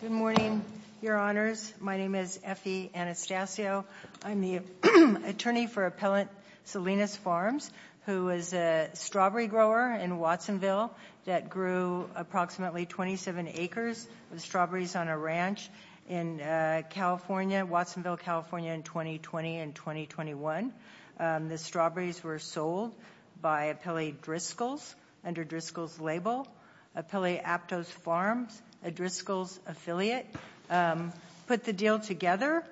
Good morning, Your Honors. My name is Effie Anastasio. I'm the attorney for Appellant Salinas Farms, who is a strawberry grower in Watsonville that grew approximately 27 acres of strawberries on a ranch in California, Watsonville, California, in 2020 and 2021. The strawberries were sold by Appellee Driscoll's, under Driscoll's label, Appellee Aptos Farms, a Driscoll's affiliate, put the deal together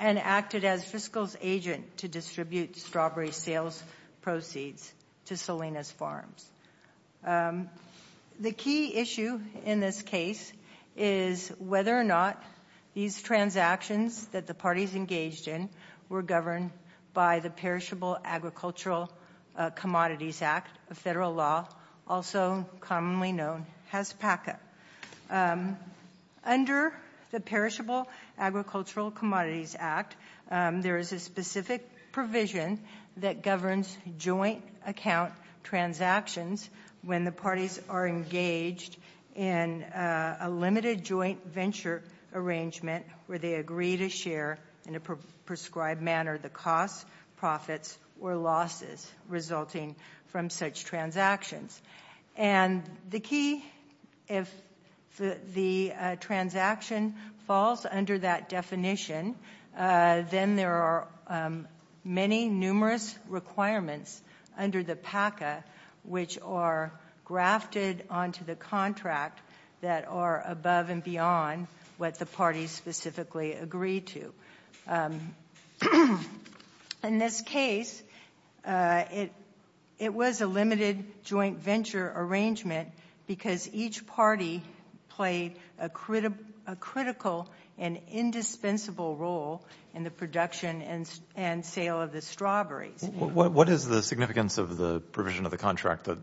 and acted as Driscoll's agent to distribute strawberry sales proceeds to Salinas Farms. The key issue in this case is whether or not these transactions that the parties engaged in were governed by the Perishable Agricultural Commodities Act, a federal law, also commonly known as PACA. Under the Perishable Agricultural Commodities Act, there is a specific provision that governs joint account transactions when the parties are engaged in a limited joint venture arrangement where they agree to share in a prescribed manner the costs, profits, or losses resulting from such transactions. And the key, if the transaction falls under that definition, then there are many numerous requirements under the PACA which are grafted onto the contract that are above and beyond what the parties specifically agree to. In this case, it was a limited joint venture arrangement because each party played a critical and indispensable role in the production and sale of the strawberries. What is the significance of the provision of the contract that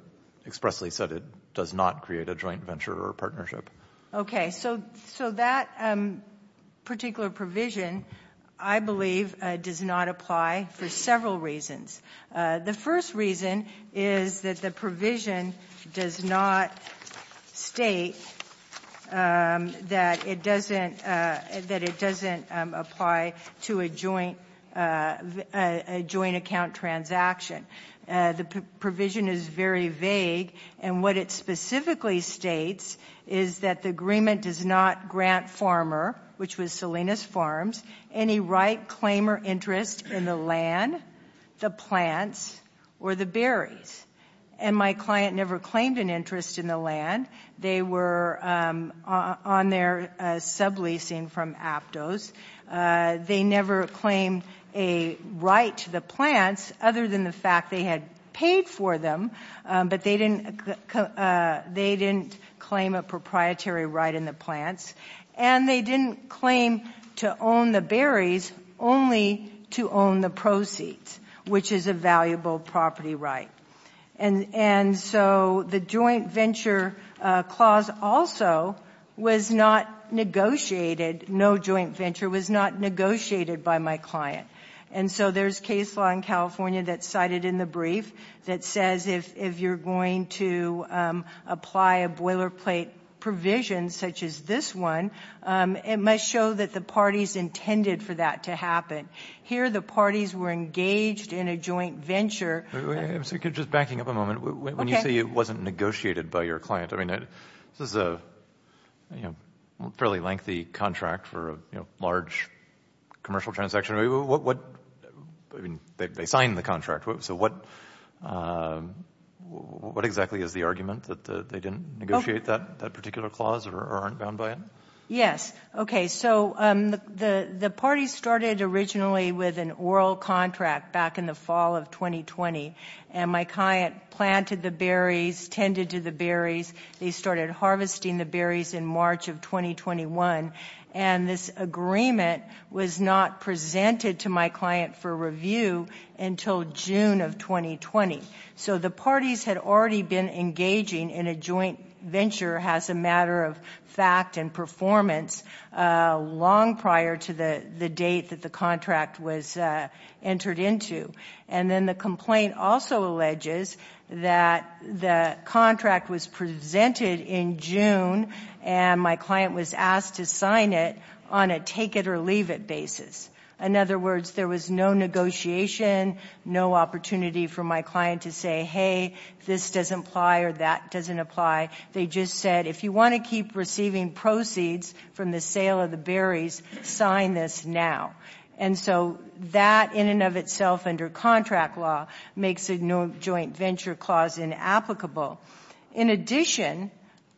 expressly said it does not create a joint venture or partnership? Okay, so that particular provision, I believe, does not apply for several reasons. The first reason is that the provision does not state that it doesn't apply to a joint account transaction. The provision is very vague and what it specifically states is that the agreement does not grant farmer, which was Salinas Farms, any right, claim, or interest in the land, the plants, or the berries. And my client never claimed an interest in the land. They were on their subleasing from Aptos. They never claimed a right to the plants other than the fact they had paid for them, but they didn't claim a proprietary right in the plants. And they didn't claim to own the berries only to own the proceeds, which is a valuable property right. And so the joint venture clause also was not negotiated. No joint venture was not negotiated by my client. And so there's case law in California that's cited in the brief that says if you're going to apply a boilerplate provision such as this one, it must show that the parties intended for that to happen. Here the parties were engaged in a joint venture. Just backing up a moment, when you say it wasn't negotiated by your client, I mean, this is a fairly lengthy contract for a large commercial transaction. I mean, they signed the contract. So what exactly is the argument that they didn't negotiate that particular clause or aren't bound by it? Yes. Okay. So the parties started originally with an oral contract back in the fall of 2020, and my client planted the berries, tended to the berries. They started harvesting the berries in March of 2021. And this agreement was not presented to my client for review until June of 2020. So the parties had already been engaging in a joint venture as a matter of fact and performance long prior to the date that the contract was entered into. And then the complaint also alleges that the contract was presented in June, and my client was asked to sign it on a take-it-or-leave-it basis. In other words, there was no negotiation, no opportunity for my client to say, hey, this doesn't apply or that doesn't apply. They just said, if you want to keep receiving proceeds from the sale of the berries, sign this now. And so that in and of itself under contract law makes a joint venture clause inapplicable. In addition,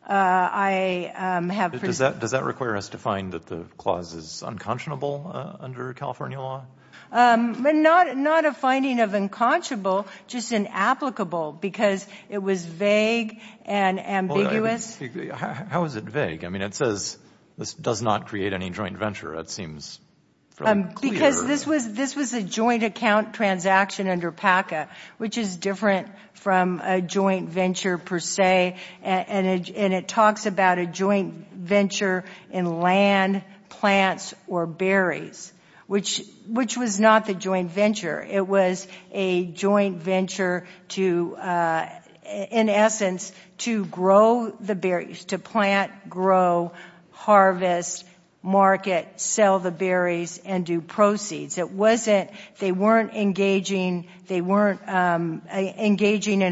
I have – Does that require us to find that the clause is unconscionable under California law? Not a finding of unconscionable, just inapplicable because it was vague and ambiguous. How is it vague? I mean, it says this does not create any joint venture, it seems. Because this was a joint account transaction under PACA, which is different from a joint venture per se. And it talks about a joint venture in land, plants, or berries, which was not the joint venture. It was a joint venture to, in essence, to grow the berries, to plant, grow, harvest, market, sell the berries, and do proceeds. It wasn't – they weren't engaging in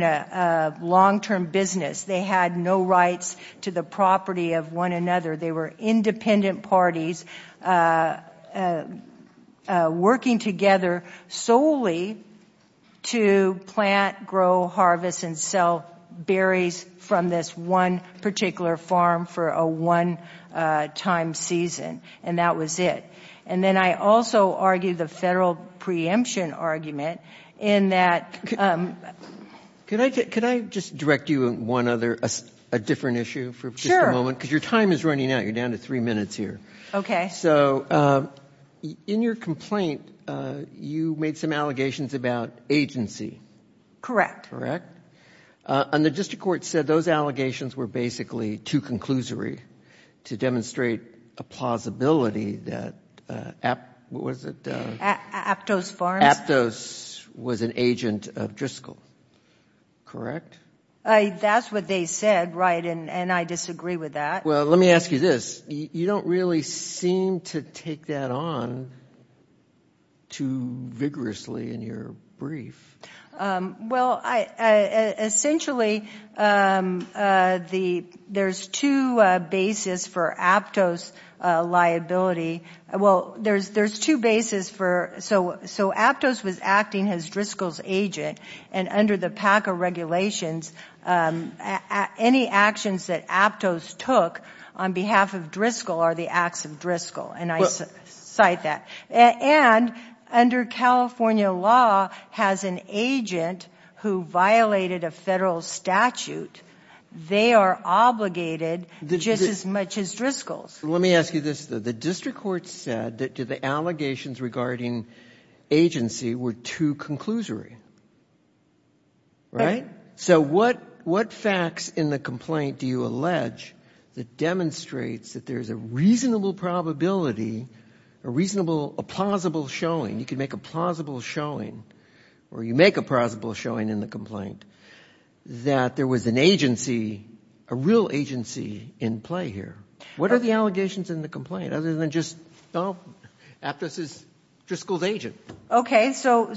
a long-term business. They had no rights to the property of one another. They were independent parties working together solely to plant, grow, harvest, and sell berries from this one particular farm for a one-time season. And that was it. And then I also argue the federal preemption argument in that – Could I just direct you on one other – a different issue for just a moment? Because your time is running out. You're down to three minutes here. So in your complaint, you made some allegations about agency. Correct. Correct? And the district court said those allegations were basically too conclusory to demonstrate a plausibility that – what was it? Aptos Farms. Aptos was an agent of Driscoll. Correct? That's what they said, right, and I disagree with that. Well, let me ask you this. You don't really seem to take that on too vigorously in your brief. Well, essentially, there's two bases for Aptos liability. Well, there's two bases for – so Aptos was acting as Driscoll's agent, and under the PACA regulations, any actions that Aptos took on behalf of Driscoll are the acts of Driscoll, and I cite that. And under California law has an agent who violated a federal statute. They are obligated just as much as Driscoll's. Let me ask you this, though. The district court said that the allegations regarding agency were too conclusory, right? So what facts in the complaint do you allege that demonstrates that there's a reasonable probability, a reasonable – a plausible showing, you can make a plausible showing, or you make a plausible showing in the complaint, that there was an agency, a real agency in play here? What are the allegations in the complaint other than just Aptos is Driscoll's agent? Okay, so in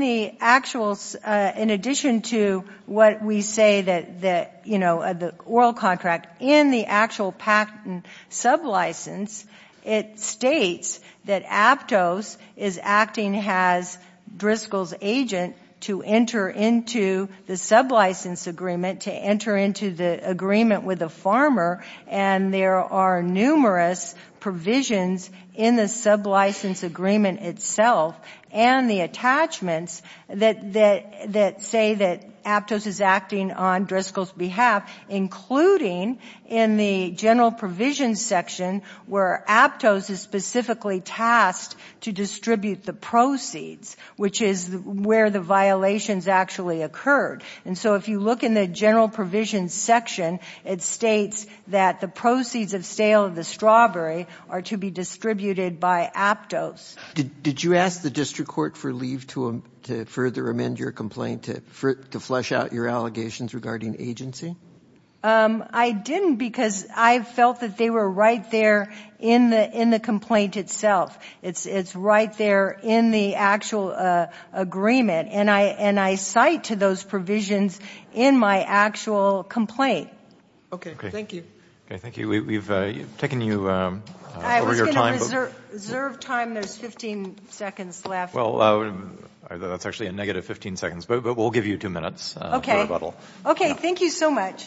the actual – in addition to what we say that, you know, the oral contract, in the actual PACA sublicense, it states that Aptos is acting as Driscoll's agent to enter into the sublicense agreement, to enter into the agreement with the farmer, and there are numerous provisions in the sublicense agreement itself and the attachments that say that Aptos is acting on Driscoll's behalf, including in the general provisions section where Aptos is specifically tasked to distribute the proceeds, which is where the violations actually occurred. And so if you look in the general provisions section, it states that the proceeds of sale of the strawberry are to be distributed by Aptos. Did you ask the district court for leave to further amend your complaint to flush out your allegations regarding agency? I didn't because I felt that they were right there in the complaint itself. It's right there in the actual agreement, and I cite to those provisions in my actual complaint. Okay, great. Thank you. Okay, thank you. We've taken you over your time. I was going to reserve time. There's 15 seconds left. Well, that's actually a negative 15 seconds, but we'll give you two minutes for rebuttal. Okay. Thank you so much.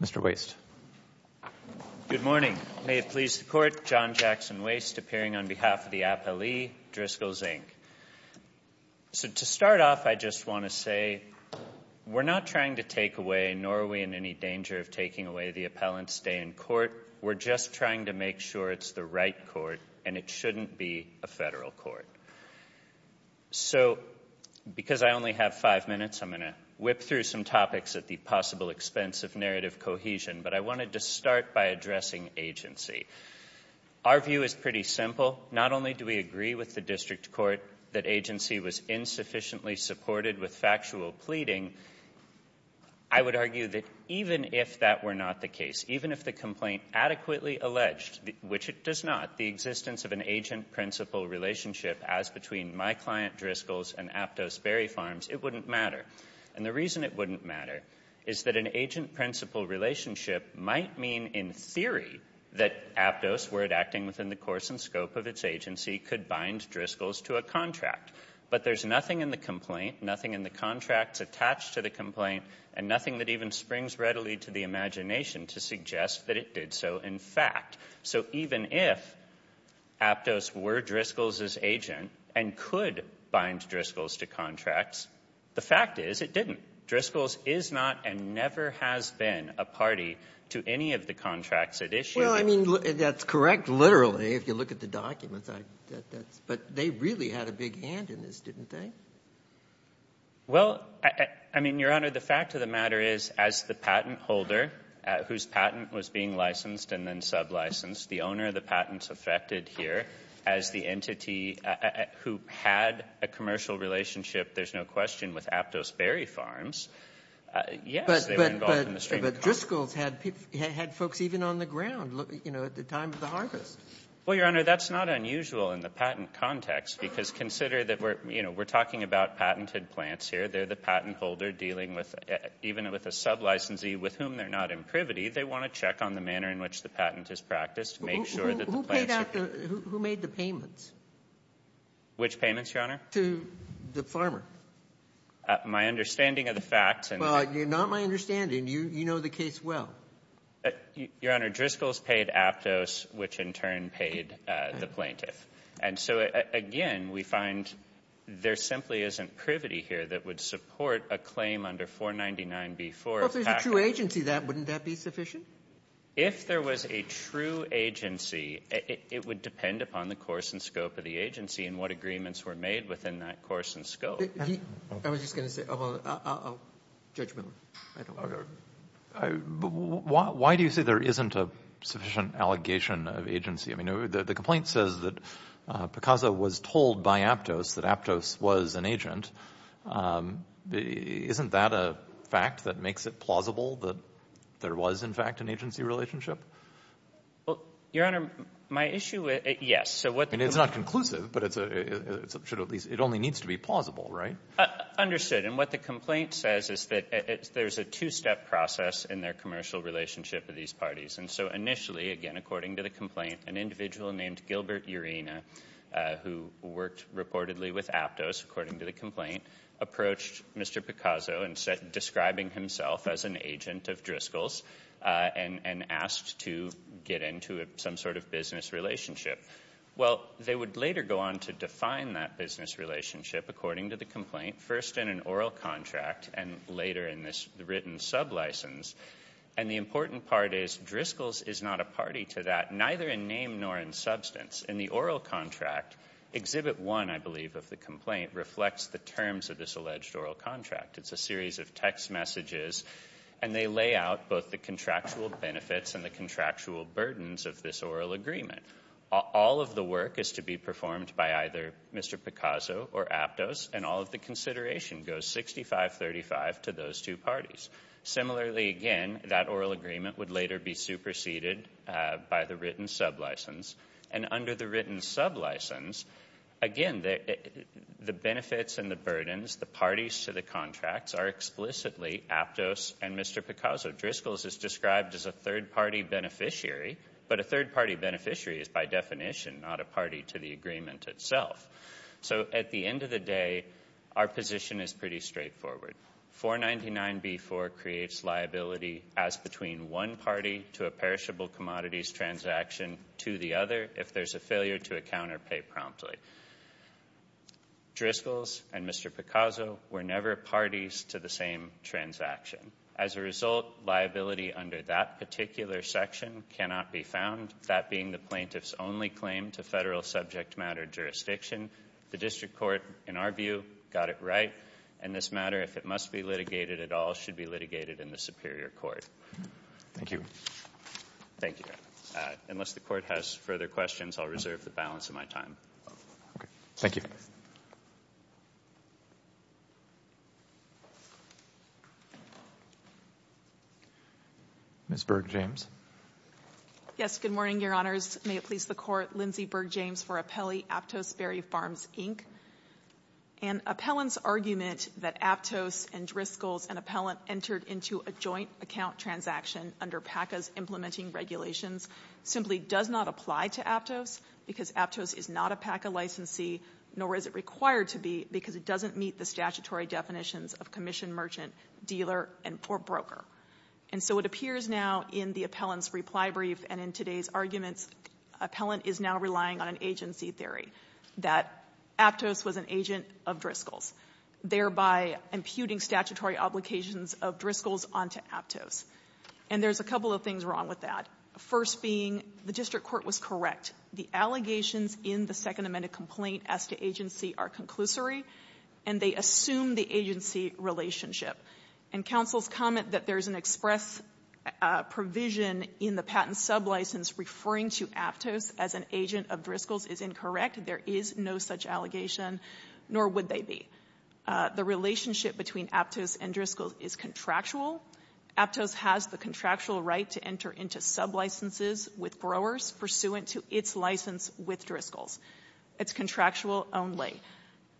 Mr. Waste. Good morning. May it please the court. John Jackson Waste appearing on behalf of the appellee, Driscoll's Inc. So to start off, I just want to say we're not trying to take away, nor are we in any danger of taking away the appellant's stay in court. We're just trying to make sure it's the right court, and it shouldn't be a federal court. So because I only have five minutes, I'm going to whip through some topics at the possible expense of narrative cohesion, but I wanted to start by addressing agency. Our view is pretty simple. Not only do we agree with the district court that agency was insufficiently supported with factual pleading, I would argue that even if that were not the case, even if the complaint adequately alleged, which it does not, the existence of an agent-principal relationship as between my client, Driscoll's, and Aptos Berry Farms, it wouldn't matter. And the reason it wouldn't matter is that an agent-principal relationship might mean, in theory, that Aptos, were it acting within the course and scope of its agency, could bind Driscoll's to a contract. But there's nothing in the complaint, nothing in the contracts attached to the complaint, and nothing that even springs readily to the imagination to suggest that it did so in fact. So even if Aptos were Driscoll's' agent and could bind Driscoll's to contracts, the fact is it didn't. Driscoll's is not and never has been a party to any of the contracts it issued. Well, I mean, that's correct, literally, if you look at the documents. But they really had a big hand in this, didn't they? Well, I mean, Your Honor, the fact of the matter is as the patent holder, whose patent was being licensed and then sub-licensed, the owner of the patents affected here as the entity who had a commercial relationship, there's no question, with Aptos Berry Farms, yes, they were involved in the stream. But Driscoll's had folks even on the ground, you know, at the time of the harvest. Well, Your Honor, that's not unusual in the patent context, because consider that we're talking about patented plants here. They're the patent holder dealing with even with a sub-licensee with whom they're not in privity. They want to check on the manner in which the patent is practiced to make sure that the plants are being used. Who made the payments? Which payments, Your Honor? To the farmer. My understanding of the facts. Well, you're not my understanding. You know the case well. Your Honor, Driscoll's paid Aptos, which in turn paid the plaintiff. And so, again, we find there simply isn't privity here that would support a claim under 499B4. Well, if there's a true agency, wouldn't that be sufficient? If there was a true agency, it would depend upon the course and scope of the agency and what agreements were made within that course and scope. I was just going to say, well, I'll judgmentally. Why do you say there isn't a sufficient allegation of agency? I mean, the complaint says that Picasa was told by Aptos that Aptos was an agent. Isn't that a fact that makes it plausible that there was, in fact, an agency relationship? Well, Your Honor, my issue with it, yes. I mean, it's not conclusive, but it only needs to be plausible, right? Understood. And what the complaint says is that there's a two-step process in their commercial relationship with these parties. And so, initially, again, according to the complaint, an individual named Gilbert Urena, who worked reportedly with Aptos, according to the complaint, approached Mr. Picasa, describing himself as an agent of Driscoll's and asked to get into some sort of business relationship. Well, they would later go on to define that business relationship, according to the complaint, first in an oral contract and later in this written sublicense. And the important part is Driscoll's is not a party to that, neither in name nor in substance. In the oral contract, Exhibit 1, I believe, of the complaint, reflects the terms of this alleged oral contract. It's a series of text messages, and they lay out both the contractual benefits and the contractual burdens of this oral agreement. All of the work is to be performed by either Mr. Picasa or Aptos, and all of the consideration goes 6535 to those two parties. Similarly, again, that oral agreement would later be superseded by the written sublicense. And under the written sublicense, again, the benefits and the burdens, the parties to the contracts, are explicitly Aptos and Mr. Picasa. Driscoll's is described as a third-party beneficiary, but a third-party beneficiary is by definition not a party to the agreement itself. So at the end of the day, our position is pretty straightforward. 499B4 creates liability as between one party to a perishable commodities transaction to the other if there's a failure to account or pay promptly. Driscoll's and Mr. Picasa were never parties to the same transaction. As a result, liability under that particular section cannot be found, that being the plaintiff's only claim to federal subject matter jurisdiction. The district court, in our view, got it right. And this matter, if it must be litigated at all, should be litigated in the superior court. Thank you. Thank you. Unless the court has further questions, I'll reserve the balance of my time. Okay. Thank you. Ms. Berg-James. Yes, good morning, Your Honors. May it please the Court, Lindsay Berg-James for Appellee, Aptos Berry Farms, Inc. An appellant's argument that Aptos and Driscoll's, an appellant entered into a joint account transaction under PACA's implementing regulations, simply does not apply to Aptos because Aptos is not a PACA licensee, nor is it required to be, because it doesn't meet the statutory definitions of commission merchant, dealer, or broker. And so it appears now in the appellant's reply brief and in today's arguments, appellant is now relying on an agency theory that Aptos was an agent of Driscoll's, thereby imputing statutory obligations of Driscoll's onto Aptos. And there's a couple of things wrong with that, first being the district court was correct. The allegations in the Second Amendment complaint as to agency are conclusory, and they assume the agency relationship. And counsel's comment that there's an express provision in the patent sublicense referring to Aptos as an agent of Driscoll's is incorrect. There is no such allegation, nor would they be. The relationship between Aptos and Driscoll's is contractual. Aptos has the contractual right to enter into sublicenses with growers pursuant to its license with Driscoll's. It's contractual only.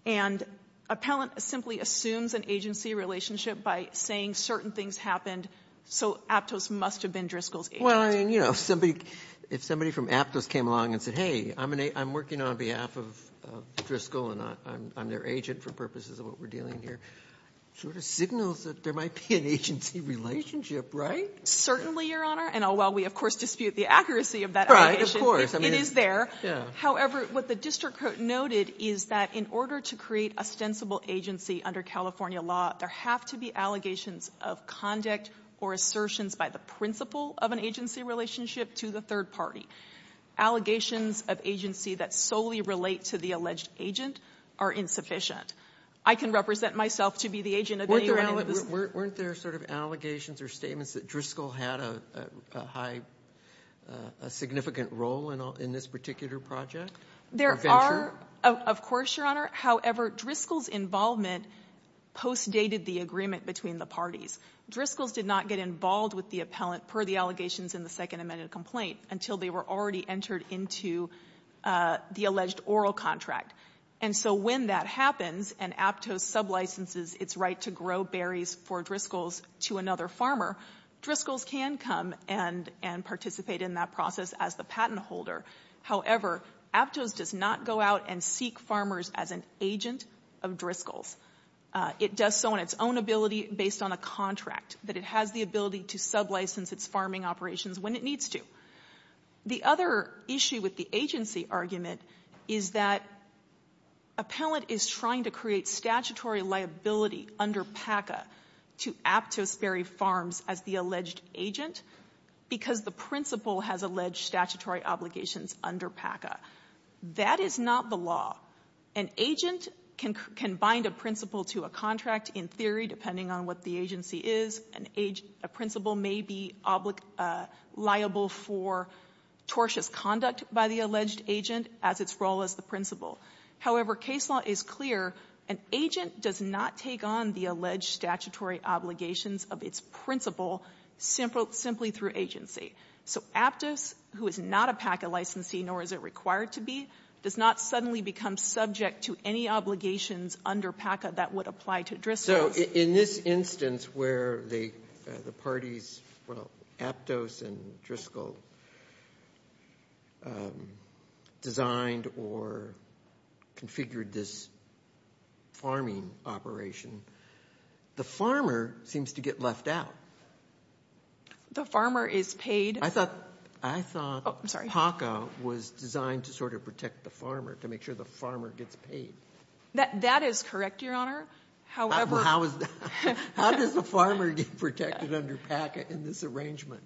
And appellant simply assumes an agency relationship by saying certain things happened, so Aptos must have been Driscoll's agent. If somebody from Aptos came along and said, hey, I'm working on behalf of Driscoll and I'm their agent for purposes of what we're dealing here, it sort of signals that there might be an agency relationship, right? Certainly, Your Honor. And while we, of course, dispute the accuracy of that allegation, it is there. However, what the district court noted is that in order to create a stensible agency under California law, there have to be allegations of conduct or assertions by the principal of an agency relationship to the third party. Allegations of agency that solely relate to the alleged agent are insufficient. I can represent myself to be the agent of any one of those. Weren't there sort of allegations or statements that Driscoll had a significant role in this particular project? There are, of course, Your Honor. However, Driscoll's involvement postdated the agreement between the parties. Driscoll's did not get involved with the appellant per the allegations in the second amended complaint until they were already entered into the alleged oral contract. And so when that happens and Aptos sublicenses its right to grow berries for Driscoll's to another farmer, Driscoll's can come and participate in that process as the patent holder. However, Aptos does not go out and seek farmers as an agent of Driscoll's. It does so on its own ability based on a contract, that it has the ability to sublicense its farming operations when it needs to. The other issue with the agency argument is that appellant is trying to create statutory liability under PACA to Aptos Berry Farms as the alleged agent because the principal has alleged statutory obligations under PACA. That is not the law. An agent can bind a principal to a contract in theory, depending on what the agency is. A principal may be liable for tortious conduct by the alleged agent as its role as the principal. However, case law is clear. An agent does not take on the alleged statutory obligations of its principal simply through agency. So Aptos, who is not a PACA licensee, nor is it required to be, does not suddenly become subject to any obligations under PACA that would apply to Driscoll's. In this instance where the parties, well, Aptos and Driscoll, designed or configured this farming operation, the farmer seems to get left out. The farmer is paid. I thought PACA was designed to sort of protect the farmer, to make sure the farmer gets paid. That is correct, Your Honor. However How does the farmer get protected under PACA in this arrangement?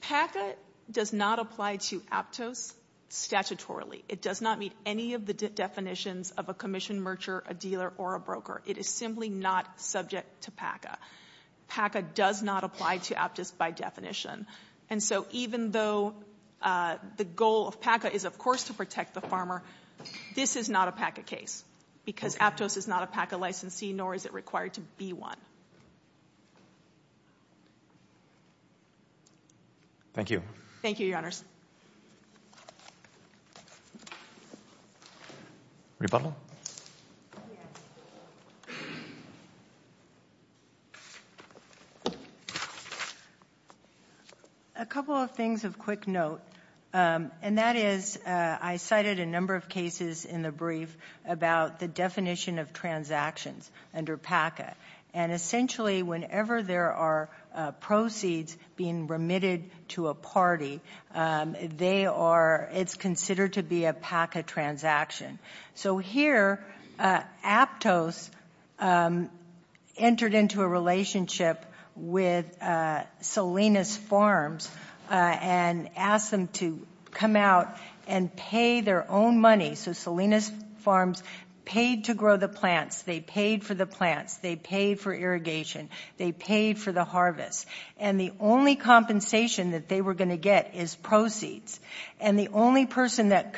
PACA does not apply to Aptos statutorily. It does not meet any of the definitions of a commission merger, a dealer, or a broker. It is simply not subject to PACA. PACA does not apply to Aptos by definition. And so even though the goal of PACA is, of course, to protect the farmer, this is not a PACA case, because Aptos is not a PACA licensee, nor is it required to be one. Thank you. Thank you, Your Honors. Rebuttal? Yes. A couple of things of quick note, and that is I cited a number of cases in the brief about the definition of transactions under PACA. And essentially whenever there are proceeds being remitted to a party, they are, it's considered to be a PACA transaction. So here Aptos entered into a relationship with Salinas Farms and asked them to come out and pay their own money. So Salinas Farms paid to grow the plants. They paid for the plants. They paid for irrigation. They paid for the harvest. And the only compensation that they were going to get is proceeds. And the only person that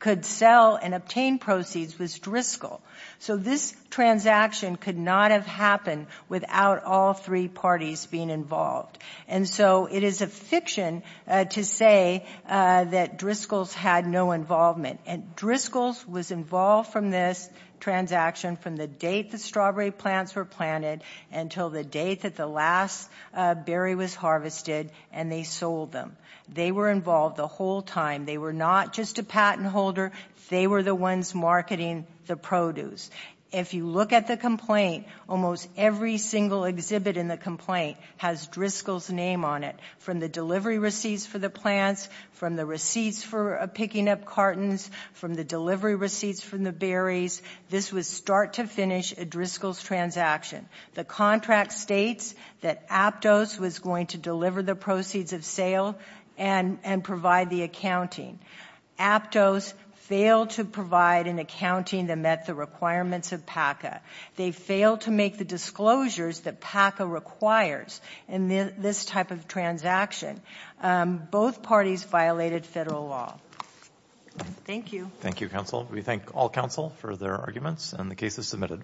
could sell and obtain proceeds was Driscoll. So this transaction could not have happened without all three parties being involved. And so it is a fiction to say that Driscoll's had no involvement. And Driscoll's was involved from this transaction from the date the strawberry plants were planted until the date that the last berry was harvested, and they sold them. They were involved the whole time. They were not just a patent holder. They were the ones marketing the produce. If you look at the complaint, almost every single exhibit in the complaint has Driscoll's name on it, from the delivery receipts for the plants, from the receipts for picking up cartons, from the delivery receipts from the berries. This was start to finish a Driscoll's transaction. The contract states that Aptos was going to deliver the proceeds of sale and provide the accounting. Aptos failed to provide an accounting that met the requirements of PACA. They failed to make the disclosures that PACA requires in this type of transaction. Both parties violated federal law. Thank you. Thank you, counsel. We thank all counsel for their arguments, and the case is submitted.